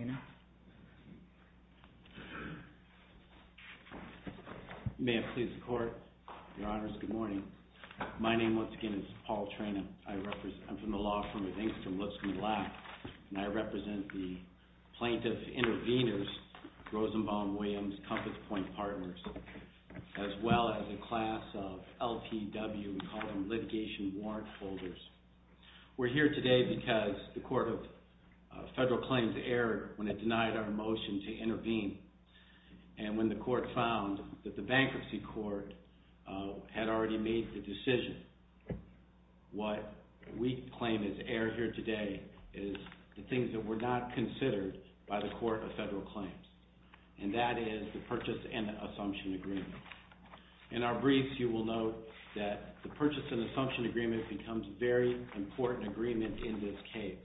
Attorney General Paul Trena. May it please the court, your honors, good morning. My name, once again, is Paul Trena. I represent, I'm from the law firm of Ingstam Lipscomb Black, and I represent the plaintiff intervenors, Rosenbaum Williams, Compass Point Partners, as well as a class of LPW, we call them litigation warrant holders. We're here today because the Court of Federal Claims erred when it denied our motion to intervene, and when the court found that the bankruptcy court had already made the decision. What we claim has erred here today is the things that were not considered by the Court of Federal Claims, and that is the purchase and assumption agreement becomes a very important agreement in this case.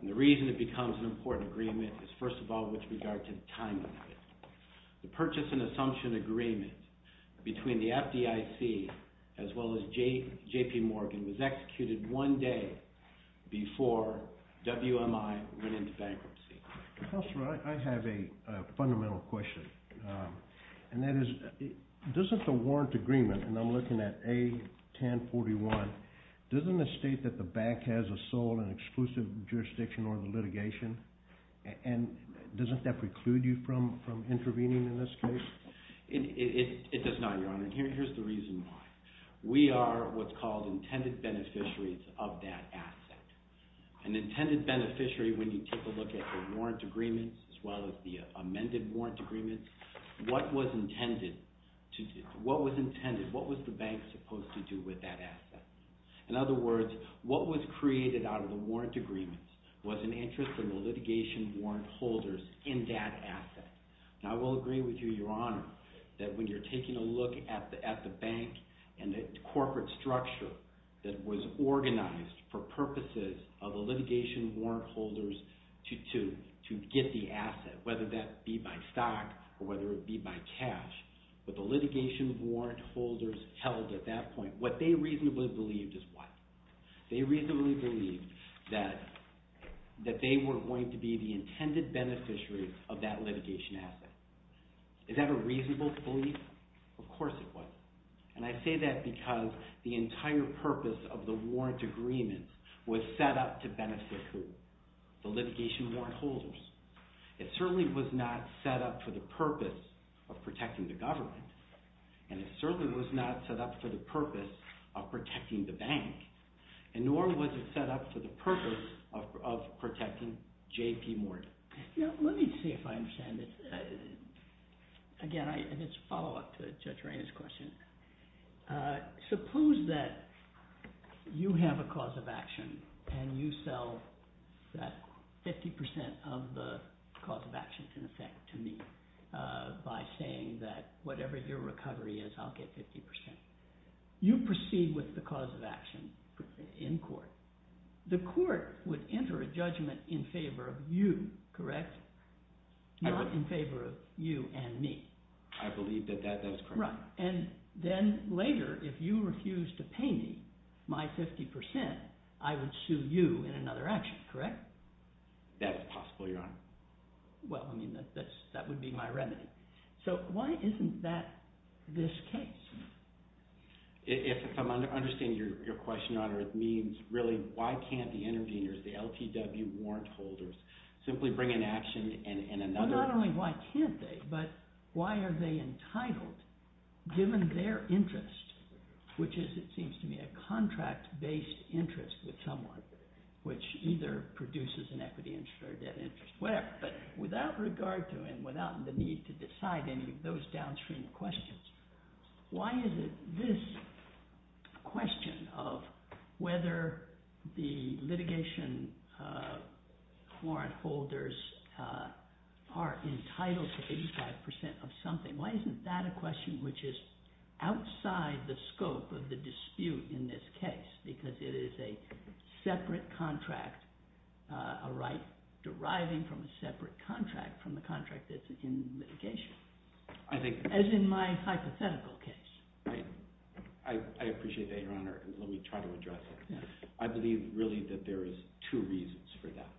And the reason it becomes an important agreement is, first of all, with regard to the timing of it. The purchase and assumption agreement between the FDIC as well as J.P. Morgan was executed one day before WMI went into bankruptcy. Counselor, I have a fundamental question, and that is, doesn't the warrant agreement, and I'm looking at A1041, doesn't it state that the bank has a sole and exclusive jurisdiction over litigation? And doesn't that preclude you from intervening in this case? It does not, Your Honor, and here's the reason why. We are what's called intended beneficiaries of that asset. An intended beneficiary, when you take a look at the warrant agreement as well as the amended warrant agreement, what was intended, what was the bank supposed to do with that asset? In other words, what was created out of the warrant agreement was an interest in the litigation warrant holders in that asset. And I will agree with you, Your Honor, that when you're taking a look at the bank and the corporate structure that was organized for purposes of the litigation warrant holders to get the asset, whether that be by stock or whether it be by cash, but the litigation warrant holders held at that point, what they reasonably believed is what? An intended beneficiary of that litigation asset. Is that a reasonable belief? Of course it was. And I say that because the entire purpose of the warrant agreement was set up to benefit who? The litigation warrant holders. It certainly was not set up for the purpose of protecting the government, and it certainly was not set up for the purpose of protecting the bank, and nor was it set up for the purpose of protecting J.P. Morgan. Let me see if I understand this. Again, it's a follow-up to Judge Reina's question. Suppose that you have a cause of action and you sell that 50% of the cause of action in effect to me by saying that whatever your recovery is, I'll get 50%. You proceed with the cause of action in court. The court would enter a judgment in favor of you, correct? Not in favor of you and me. I believe that that is correct. Right. And then later, if you refuse to pay me my 50%, I would sue you in another action, correct? That is possible, Your Honor. Well, I mean, that would be my remedy. So why isn't that this case? If I'm understanding your question, Your Honor, it means, really, why can't the interveners, the LTW warrant holders, simply bring an action in another… But without regard to and without the need to decide any of those downstream questions, why is it this question of whether the litigation warrant holders are entitled to 85% of something, why isn't that a question which is outside the scope of the dispute in this case? Because it is a separate contract, a right deriving from a separate contract from the contract that's in litigation. I think… As in my hypothetical case. I appreciate that, Your Honor. Let me try to address that. I believe, really, that there is two reasons for that.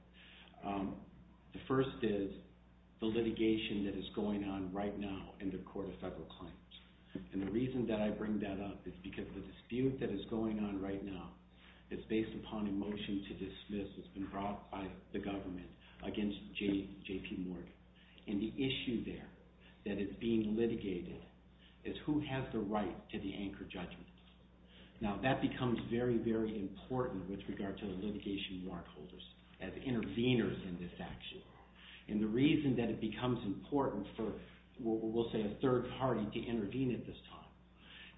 The first is the litigation that is going on right now in the Court of Federal Claims. And the reason that I bring that up is because the dispute that is going on right now is based upon a motion to dismiss that's been brought by the government against J.P. Morgan. And the issue there that is being litigated is who has the right to the anchor judgment. Now, that becomes very, very important with regard to the litigation warrant holders as interveners in this action. And the reason that it becomes important for, we'll say, a third party to intervene at this time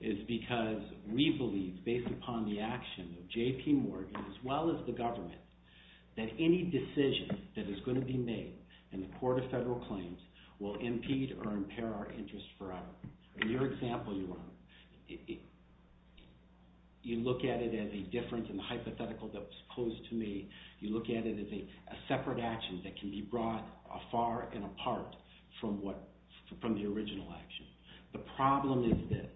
is because we believe, based upon the action of J.P. Morgan as well as the government, that any decision that is going to be made in the Court of Federal Claims will impede or impair our interest forever. In your example, Your Honor, you look at it as a difference in the hypothetical that's close to me. You look at it as a separate action that can be brought far and apart from the original action. The problem is this.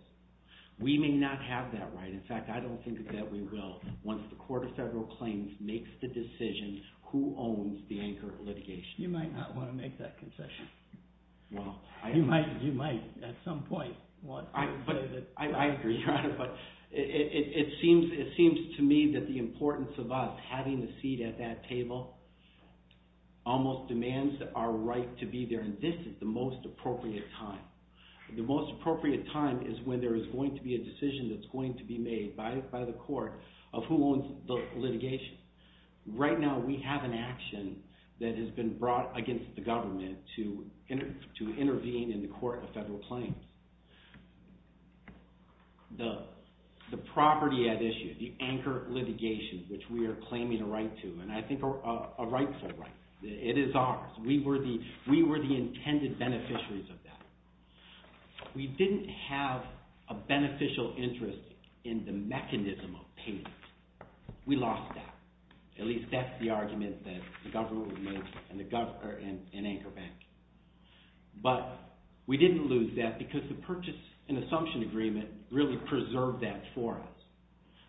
We may not have that right. In fact, I don't think that we will once the Court of Federal Claims makes the decision who owns the anchor litigation. You might not want to make that concession. You might at some point. I agree, Your Honor, but it seems to me that the importance of us having a seat at that table almost demands our right to be there. And this is the most appropriate time. The most appropriate time is when there is going to be a decision that's going to be made by the Court of who owns the litigation. Right now we have an action that has been brought against the government to intervene in the Court of Federal Claims. The property at issue, the anchor litigation, which we are claiming a right to, and I think a rightful right. It is ours. We were the intended beneficiaries of that. We didn't have a beneficial interest in the mechanism of payment. We lost that. At least that's the argument that the government would make in Anchor Bank. But we didn't lose that because the purchase and assumption agreement really preserved that for us.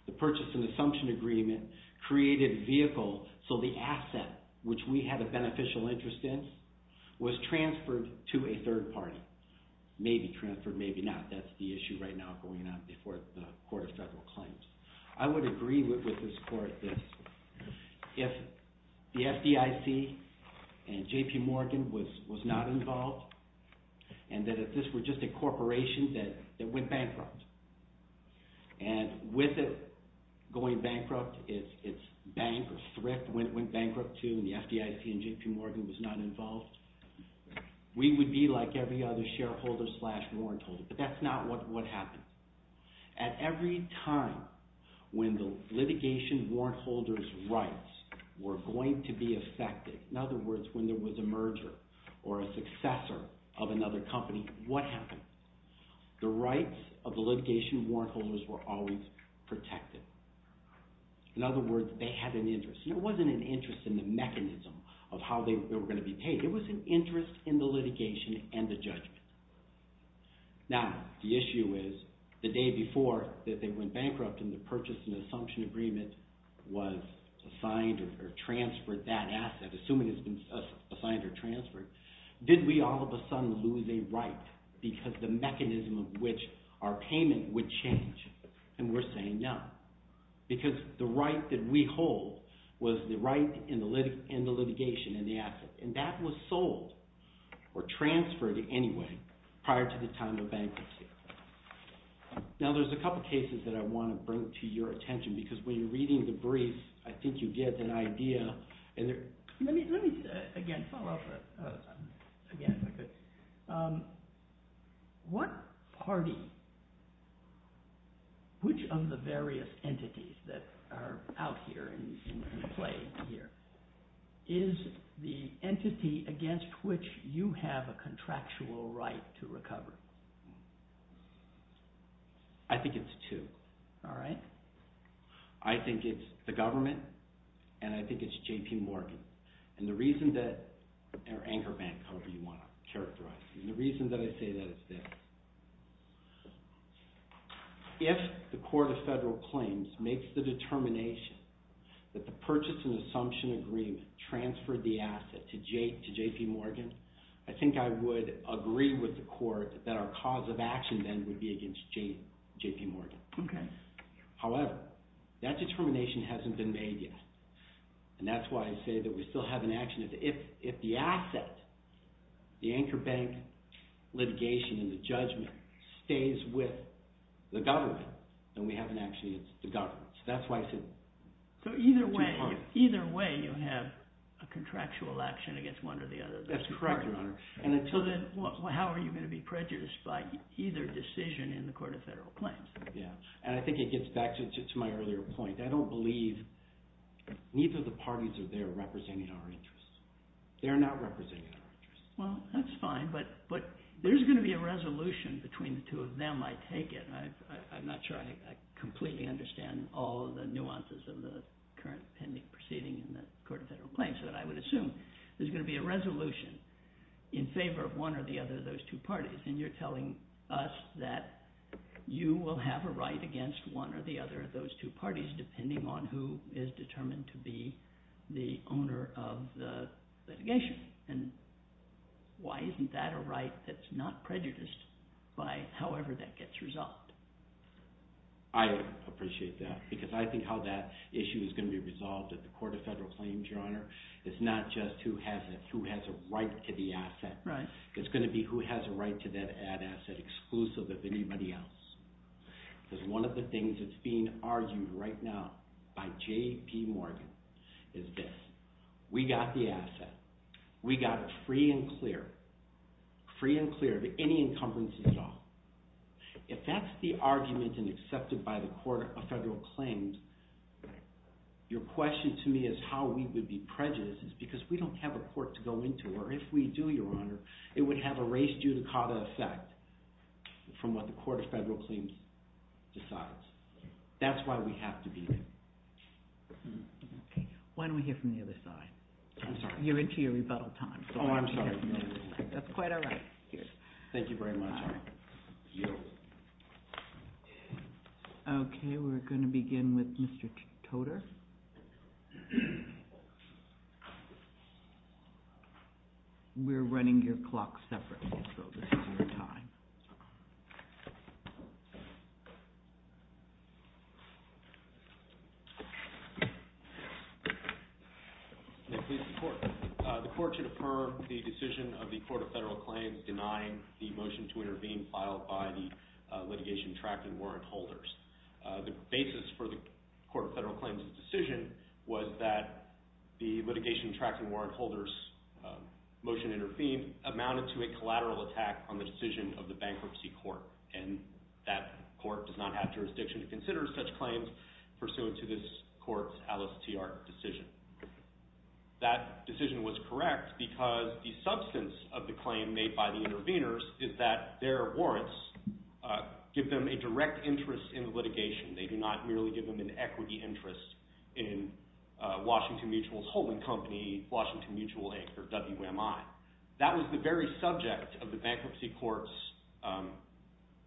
The purchase and assumption agreement created a vehicle so the asset, which we had a beneficial interest in, was transferred to a third party. Maybe transferred, maybe not. That's the issue right now going on before the Court of Federal Claims. I would agree with this Court that if the FDIC and J.P. Morgan was not involved, and that if this were just a corporation that went bankrupt, and with it going bankrupt, its bank or thrift went bankrupt too, and the FDIC and J.P. Morgan was not involved, we would be like every other shareholder slash warrant holder, but that's not what happens. At every time when the litigation warrant holder's rights were going to be affected, in other words, when there was a merger or a successor of another company, what happened? The rights of the litigation warrant holders were always protected. In other words, they had an interest. It wasn't an interest in the mechanism of how they were going to be paid. It was an interest in the litigation and the judgment. Now, the issue is, the day before that they went bankrupt and the purchase and assumption agreement was assigned or transferred, that asset, assuming it's been assigned or transferred, did we all of a sudden lose a right because the mechanism of which our payment would change? And we're saying no, because the right that we hold was the right in the litigation and the asset, and that was sold or transferred anyway prior to the time of bankruptcy. Now, there's a couple cases that I want to bring to your attention because when you're reading the brief, I think you get an idea. Let me, again, follow up again. What party, which of the various entities that are out here and play here, is the entity against which you have a contractual right to recover? I think it's two. All right. I think it's the government, and I think it's J.P. Morgan. And the reason that, or Anchor Bank, however you want to characterize it, and the reason that I say that is this. If the court of federal claims makes the determination that the purchase and assumption agreement transferred the asset to J.P. Morgan, I think I would agree with the court that our cause of action then would be against J.P. Morgan. Okay. However, that determination hasn't been made yet, and that's why I say that we still have an action. If the asset, the Anchor Bank litigation and the judgment stays with the government, then we have an action against the government. So that's why I said J.P. Morgan. So either way, you have a contractual action against one or the other. That's correct, Your Honor. So then how are you going to be prejudiced by either decision in the court of federal claims? Yeah, and I think it gets back to my earlier point. I don't believe neither of the parties are there representing our interests. They're not representing our interests. Well, that's fine, but there's going to be a resolution between the two of them, I take it. I'm not sure I completely understand all of the nuances of the current pending proceeding in the court of federal claims, but I would assume there's going to be a resolution in favor of one or the other of those two parties, and you're telling us that you will have a right against one or the other of those two parties, depending on who is determined to be the owner of the litigation. And why isn't that a right that's not prejudiced by however that gets resolved? I appreciate that because I think how that issue is going to be resolved at the court of federal claims, Your Honor, is not just who has a right to the asset. Right. It's going to be who has a right to that ad asset exclusive of anybody else. Because one of the things that's being argued right now by J.P. Morgan is this. We got the asset. We got it free and clear, free and clear of any encumbrances at all. If that's the argument and accepted by the court of federal claims, your question to me is how we would be prejudiced, because we don't have a court to go into, or if we do, Your Honor, it would have a race judicata effect from what the court of federal claims decides. That's why we have to be there. Why don't we hear from the other side? I'm sorry. You're into your rebuttal time. Oh, I'm sorry. That's quite all right. Thank you very much. I yield. Okay. We're going to begin with Mr. Toter. We're running your clock separately, so this is your time. May it please the court. The court should affirm the decision of the court of federal claims denying the motion to intervene filed by the litigation track and warrant holders. The basis for the court of federal claims' decision was that the litigation track and warrant holders' motion to intervene amounted to a collateral attack on the decision of the bankruptcy court, and that court does not have jurisdiction to consider such claims pursuant to this court's Alice T. Ard decision. That decision was correct because the substance of the claim made by the interveners is that their warrants give them a direct interest in the litigation. They do not merely give them an equity interest in Washington Mutual's holding company, Washington Mutual Inc., or WMI. That was the very subject of the bankruptcy court's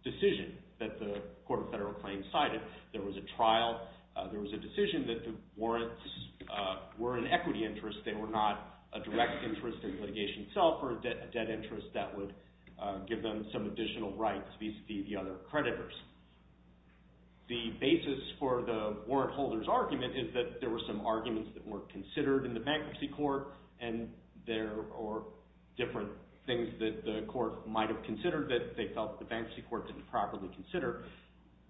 decision that the court of federal claims cited. There was a trial. There was a decision that the warrants were an equity interest. They were not a direct interest in litigation itself or a debt interest that would give them some additional rights vis-à-vis the other creditors. The basis for the warrant holder's argument is that there were some arguments that were considered in the bankruptcy court, and there are different things that the court might have considered that they felt the bankruptcy court didn't properly consider.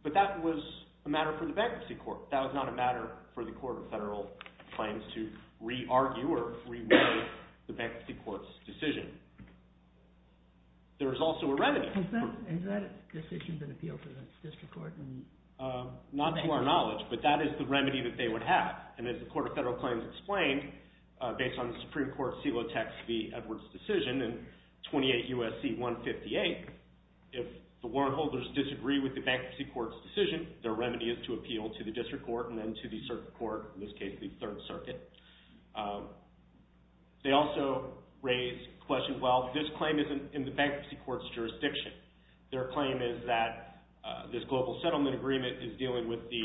But that was a matter for the bankruptcy court. That was not a matter for the court of federal claims to re-argue or re-weigh the bankruptcy court's decision. There was also a remedy. Has that decision been appealed to the district court? Not to our knowledge, but that is the remedy that they would have. And as the court of federal claims explained, based on the Supreme Court CELOTEC's v. Edwards decision in 28 U.S.C. 158, if the warrant holders disagree with the bankruptcy court's decision, their remedy is to appeal to the district court and then to the circuit court, in this case the Third Circuit. They also raised questions, well, this claim isn't in the bankruptcy court's jurisdiction. Their claim is that this global settlement agreement is dealing with the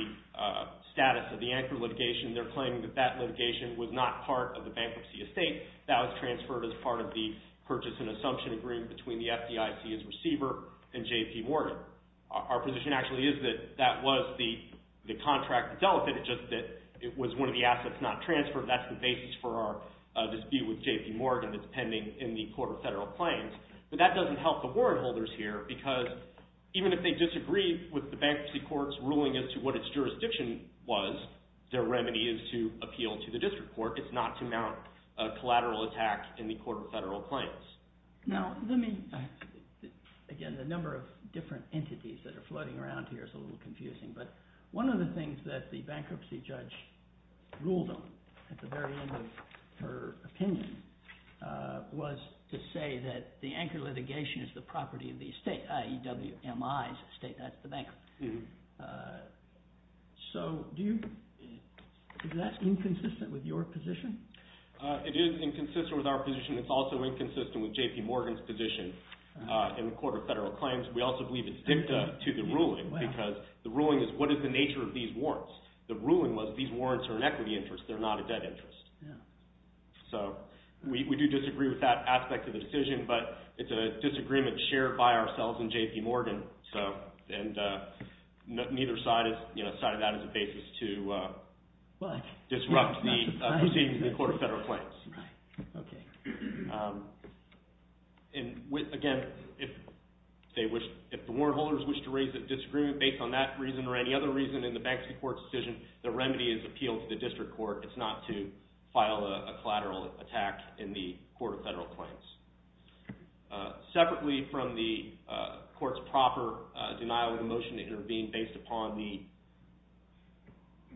status of the anchor litigation. They're claiming that that litigation was not part of the bankruptcy estate. That was transferred as part of the purchase and assumption agreement between the FDIC's receiver and J.P. Morgan. Our position actually is that that was the contract that deleted it, just that it was one of the assets not transferred. That's the basis for our dispute with J.P. Morgan that's pending in the court of federal claims. But that doesn't help the warrant holders here because even if they disagree with the bankruptcy court's ruling as to what its jurisdiction was, their remedy is to appeal to the district court. It's not to mount a collateral attack in the court of federal claims. Now, let me... Again, the number of different entities that are floating around here is a little confusing, but one of the things that the bankruptcy judge ruled on at the very end of her opinion was to say that the anchor litigation is the property of the estate, i.e. WMI's estate, that's the bank. So do you... Is that inconsistent with your position? It is inconsistent with our position. It's also inconsistent with J.P. Morgan's position in the court of federal claims. We also believe it's dicta to the ruling because the ruling is what is the nature of these warrants. The ruling was these warrants are an equity interest. They're not a debt interest. So we do disagree with that aspect of the decision, but it's a disagreement shared by ourselves and J.P. Morgan, and neither side has cited that as a basis to disrupt the proceedings in the court of federal claims. Right. Okay. And, again, if the warrant holders wish to raise a disagreement based on that reason or any other reason in the bankruptcy court's decision, the remedy is appeal to the district court. It's not to file a collateral attack in the court of federal claims. Separately from the court's proper denial of the motion to intervene based upon the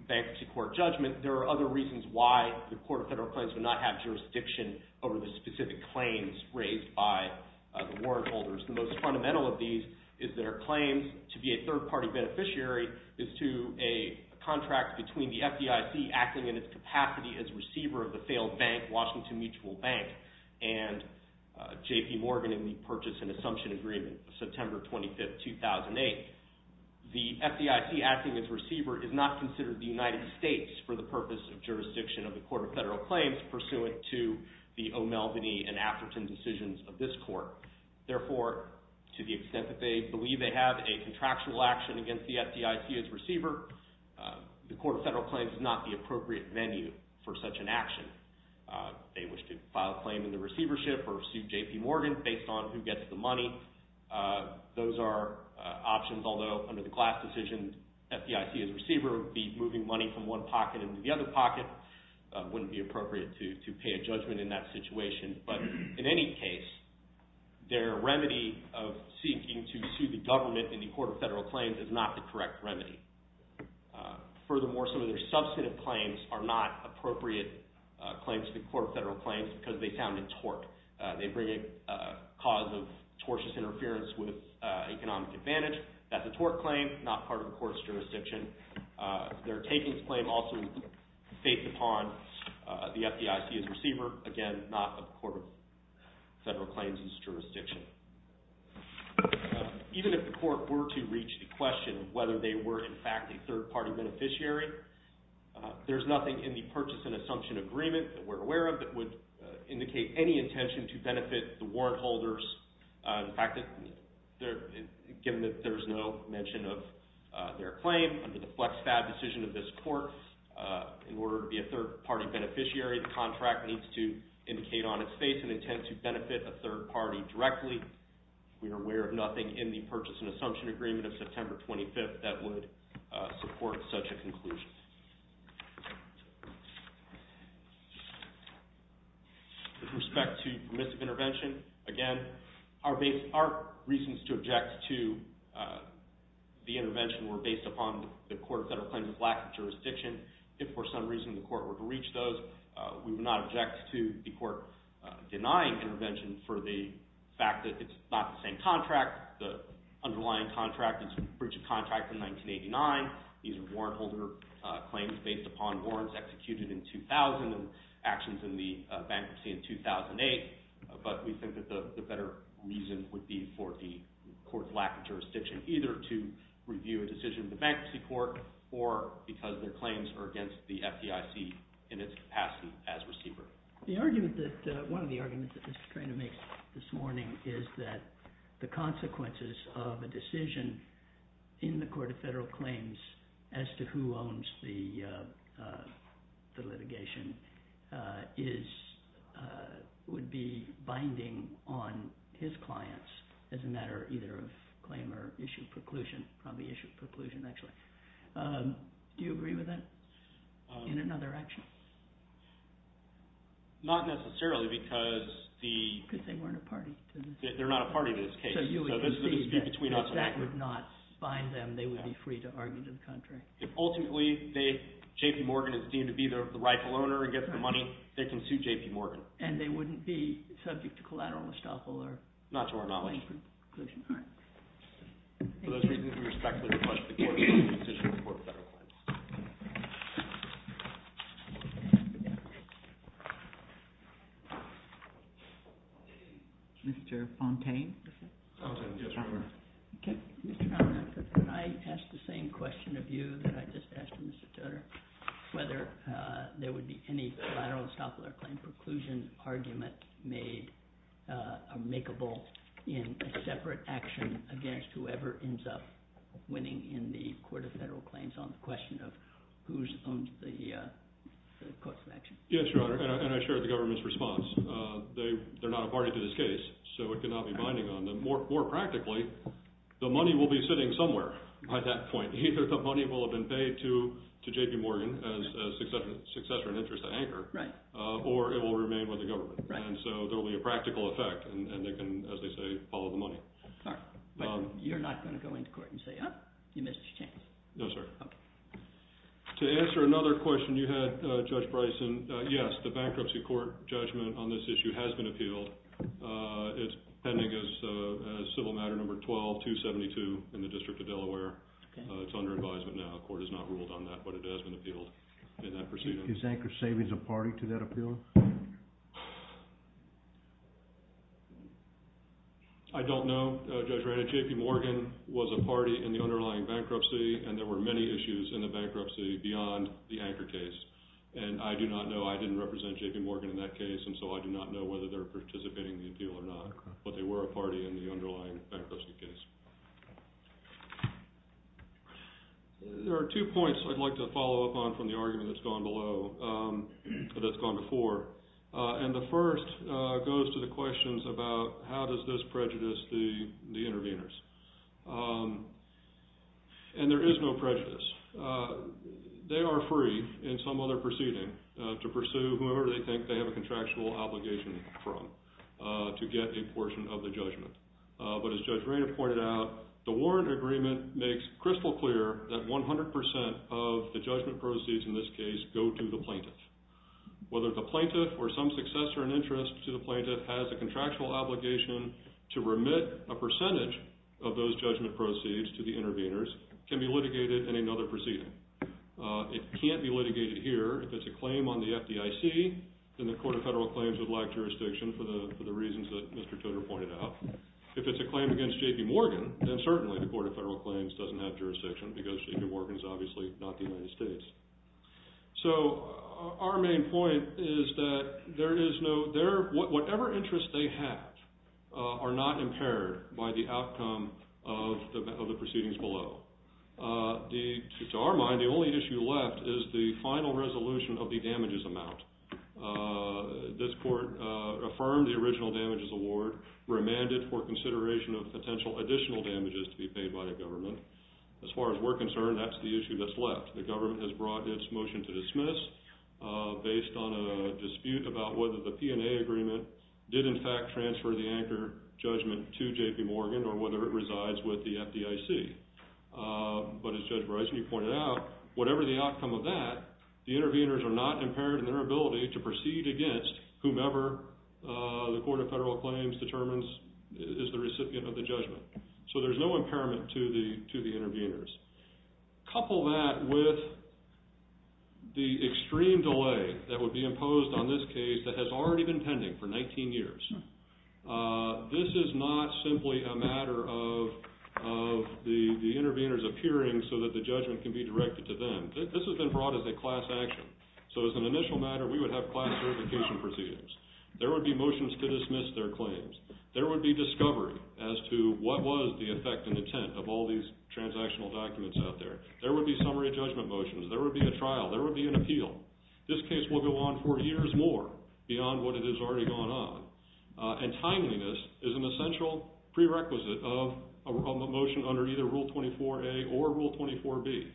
bankruptcy court judgment, there are other reasons why the court of federal claims would not have jurisdiction over the specific claims raised by the warrant holders. The most fundamental of these is their claims to be a third-party beneficiary is to a contract between the FDIC acting in its capacity as receiver of the failed bank, Washington Mutual Bank, and J.P. Morgan in the Purchase and Assumption Agreement, September 25, 2008. The FDIC acting as receiver is not considered the United States for the purpose of jurisdiction of the court of federal claims pursuant to the O'Melveny and Atherton decisions of this court. Therefore, to the extent that they believe they have a contractual action against the FDIC as receiver, the court of federal claims is not the appropriate venue for such an action. They wish to file a claim in the receivership or sue J.P. Morgan based on who gets the money. Those are options, although under the class decision, the FDIC as receiver would be moving money from one pocket into the other pocket. It wouldn't be appropriate to pay a judgment in that situation, but in any case, their remedy of seeking to sue the government in the court of federal claims is not the correct remedy. Furthermore, some of their substantive claims are not appropriate claims to the court of federal claims because they sound in torque. They bring a cause of tortuous interference with economic advantage. That's a torte claim, not part of the court's jurisdiction. Their takings claim also is based upon the FDIC as receiver. Again, not a court of federal claims jurisdiction. Even if the court were to reach the question of whether they were in fact a third-party beneficiary, there's nothing in the purchase and assumption agreement that we're aware of that would indicate any intention to benefit the warrant holders. In fact, given that there's no mention of their claim under the FlexFab decision of this court, in order to be a third-party beneficiary, the contract needs to indicate on its face an intent to benefit a third party directly. We are aware of nothing in the purchase and assumption agreement of September 25th that would support such a conclusion. With respect to permissive intervention, again, our reasons to object to the intervention were based upon the court of federal claims' lack of jurisdiction. If for some reason the court were to reach those, we would not object to the court denying intervention for the fact that it's not the same contract. The underlying contract is breach of contract in 1989. These are warrant holder claims based upon warrants executed in 2000 and actions in the bankruptcy in 2008. But we think that the better reason would be for the court's lack of jurisdiction, either to review a decision in the bankruptcy court or because their claims are against the FDIC in its capacity as receiver. The argument that... One of the arguments that Mr. Treanor makes this morning is that the consequences of a decision in the court of federal claims as to who owns the litigation would be binding on his clients as a matter either of claim or issue preclusion, probably issue preclusion, actually. Do you agree with that in another action? Not necessarily because the... Because they weren't a party to this. They're not a party to this case. So you would concede that if that would not bind them, then they would be free to argue to the country. If ultimately J.P. Morgan is deemed to be the rightful owner and gets the money, they can sue J.P. Morgan. And they wouldn't be subject to collateral estoppel or... Not to our knowledge. ...preclusion. All right. For those reasons, we respectfully request that the court review a decision in the court of federal claims. Mr. Fontaine? Fontaine, yes, your Honor. Can I ask the same question of you that I just asked Mr. Tudor, whether there would be any collateral estoppel or claim preclusion argument made, or makeable in a separate action against whoever ends up winning in the court of federal claims on the question of who's owned the courts of action? Yes, your Honor. And I share the government's response. They're not a party to this case, so it could not be binding on them. But more practically, the money will be sitting somewhere by that point. Either the money will have been paid to J.P. Morgan as successor and interest anchor, or it will remain with the government. And so there will be a practical effect, and they can, as they say, follow the money. All right. But you're not going to go into court and say, oh, you missed your chance? No, sir. Okay. To answer another question you had, Judge Bryson, yes, the bankruptcy court judgment on this issue has been appealed. It's pending as civil matter number 12-272 in the District of Delaware. It's under advisement now. The court has not ruled on that, but it has been appealed in that proceeding. Is Anchor Savings a party to that appeal? I don't know, Judge Ranney. J.P. Morgan was a party in the underlying bankruptcy, and there were many issues in the bankruptcy beyond the Anchor case. And I do not know. I didn't represent J.P. Morgan in that case, and so I do not know whether they're participating in the appeal or not. But they were a party in the underlying bankruptcy case. There are two points I'd like to follow up on from the argument that's gone below, that's gone before. And the first goes to the questions about how does this prejudice the interveners? And there is no prejudice. They are free in some other proceeding to pursue whoever they think they have a contractual obligation from to get a portion of the judgment. But as Judge Rainer pointed out, the warrant agreement makes crystal clear that 100% of the judgment proceeds in this case go to the plaintiff. Whether the plaintiff or some successor in interest to the plaintiff has a contractual obligation to remit a percentage of those judgment proceeds to the interveners can be litigated in another proceeding. It can't be litigated here if it's a claim on the FDIC, then the Court of Federal Claims would lack jurisdiction for the reasons that Mr. Toder pointed out. If it's a claim against J.P. Morgan, then certainly the Court of Federal Claims doesn't have jurisdiction because J.P. Morgan is obviously not the United States. So our main point is that there is no, whatever interest they have are not impaired by the outcome of the proceedings below. To our mind, the only issue left is the final resolution of the damages amount. This court affirmed the original damages award, remanded for consideration of potential additional damages to be paid by the government. As far as we're concerned, that's the issue that's left. The government has brought its motion to dismiss based on a dispute about whether the P&A agreement did in fact transfer the anchor judgment to J.P. Morgan or whether it resides with the FDIC. But as Judge Bryson, you pointed out, whatever the outcome of that, the interveners are not impaired in their ability to proceed against whomever the Court of Federal Claims determines is the recipient of the judgment. So there's no impairment to the interveners. Couple that with the extreme delay that would be imposed on this case that has already been pending for 19 years. This is not simply a matter of the interveners appearing so that the judgment can be directed to them. This has been brought as a class action. So as an initial matter, we would have class verification proceedings. There would be motions to dismiss their claims. There would be discovery as to what was the effect and intent of all these transactional documents out there. There would be summary judgment motions. There would be a trial. There would be an appeal. This case will go on for years more beyond what it has already gone on. And timeliness is an essential prerequisite of a motion under either Rule 24A or Rule 24B.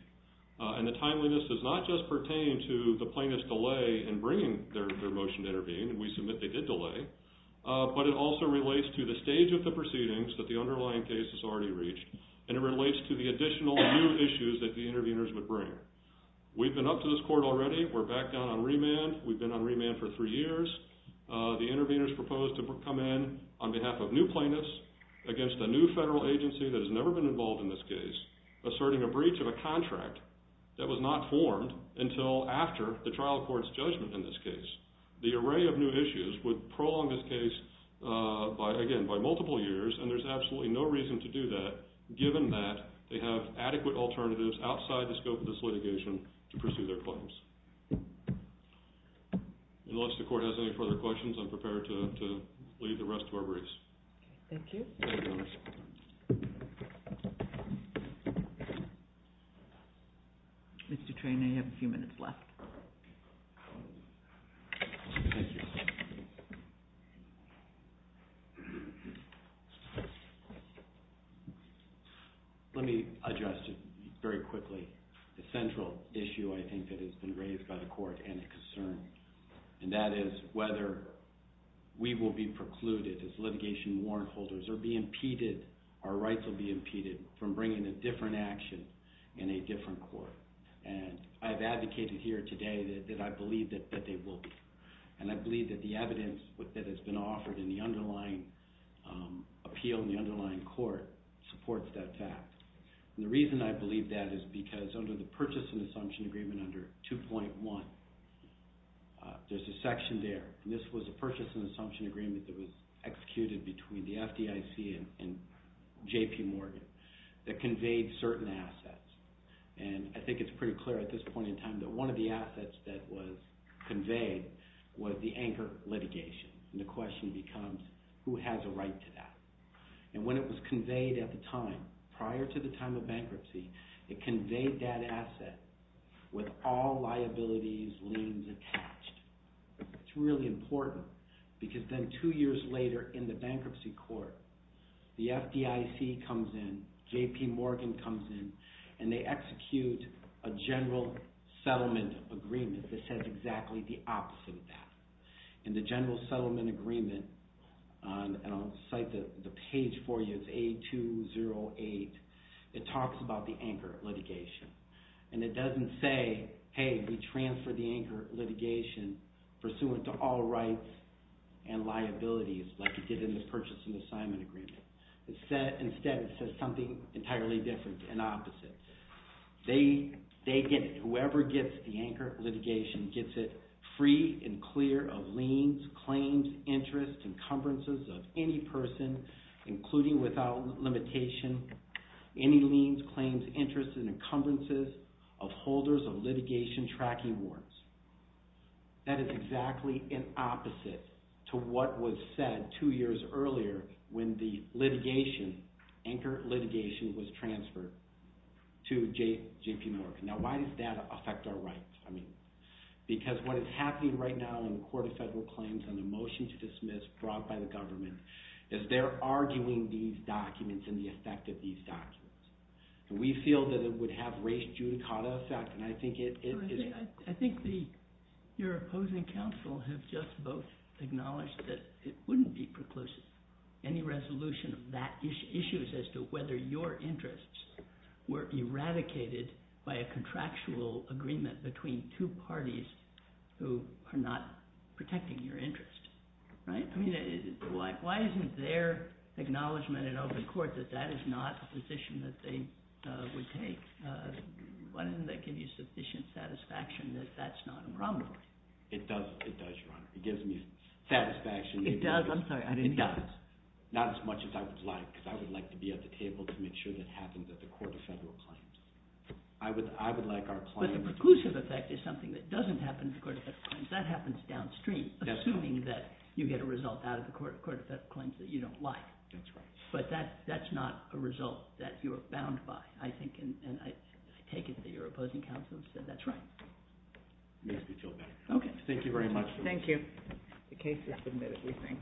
And the timeliness does not just pertain to the plaintiff's delay in bringing their motion to intervene. We submit they did delay. But it also relates to the stage of the proceedings that the underlying case has already reached. And it relates to the additional new issues that the interveners would bring. We've been up to this court already. We're back down on remand. We've been on remand for three years. The interveners proposed to come in on behalf of new plaintiffs against a new federal agency that has never been involved in this case asserting a breach of a contract that was not formed until after the trial court's judgment in this case. The array of new issues would prolong this case by, again, by multiple years. And there's absolutely no reason to do that given that they have adequate alternatives outside the scope of this litigation to pursue their claims. Unless the court has any further questions, I'm prepared to leave the rest to our briefs. Thank you. Mr. Train, you have a few minutes left. Let me address very quickly the central issue, I think, that has been raised by the court and a concern. And that is whether we will be precluded as litigation warrant holders or be impeded, our rights will be impeded, from bringing a different action in a different court. And I've advocated here today that I believe that they will be. And I believe that the evidence that has been offered in the underlying appeal in the underlying court supports that fact. And the reason I believe that is because under the Purchase and Assumption Agreement under 2.1, there's a section there, and this was a Purchase and Assumption Agreement that was executed between the FDIC and J.P. Morgan that conveyed certain assets. And I think it's pretty clear at this point in time that one of the assets that was conveyed was the anchor litigation. And the question becomes, who has a right to that? And when it was conveyed at the time, prior to the time of bankruptcy, it conveyed that asset with all liabilities, liens attached. It's really important because then two years later in the bankruptcy court, the FDIC comes in, J.P. Morgan comes in, and they execute a General Settlement Agreement that says exactly the opposite of that. In the General Settlement Agreement, and I'll cite the page for you, it's A208, it talks about the anchor litigation. And it doesn't say, hey, we transfer the anchor litigation pursuant to all rights and liabilities like it did in the Purchase and Assignment Agreement. Instead, it says something entirely different and opposite. Whoever gets the anchor litigation gets it free and clear of liens, claims, interests, encumbrances of any person, including without limitation, any liens, claims, interests, and encumbrances of holders of litigation tracking warrants. That is exactly an opposite to what was said two years earlier when the litigation, anchor litigation, was transferred to J.P. Morgan. Now, why does that affect our rights? Because what is happening right now in the Court of Federal Claims on the motion to dismiss brought by the government is they're arguing these documents and the effect of these documents. We feel that it would have race judicata effect, and I think it is... I think your opposing counsel have just both acknowledged that it wouldn't be preclusive. Any resolution of that issue is as to whether your interests were eradicated by a contractual agreement between two parties who are not protecting your interests. Right? I mean, why isn't their acknowledgement in open court that that is not a position that they would take? Why doesn't that give you sufficient satisfaction that that's not a problem for you? It does, Your Honor. It gives me satisfaction... It does? I'm sorry, I didn't hear. It does. Not as much as I would like, because I would like to be at the table to make sure that happens at the Court of Federal Claims. I would like our clients... But the preclusive effect is something that doesn't happen at the Court of Federal Claims. That happens downstream, assuming that you get a result out of the Court of Federal Claims that you don't like. That's right. But that's not a result that you're bound by, I think. And I take it that your opposing counsel said that's right. It makes me feel better. Okay. Thank you very much. Thank you. The case is submitted, we think.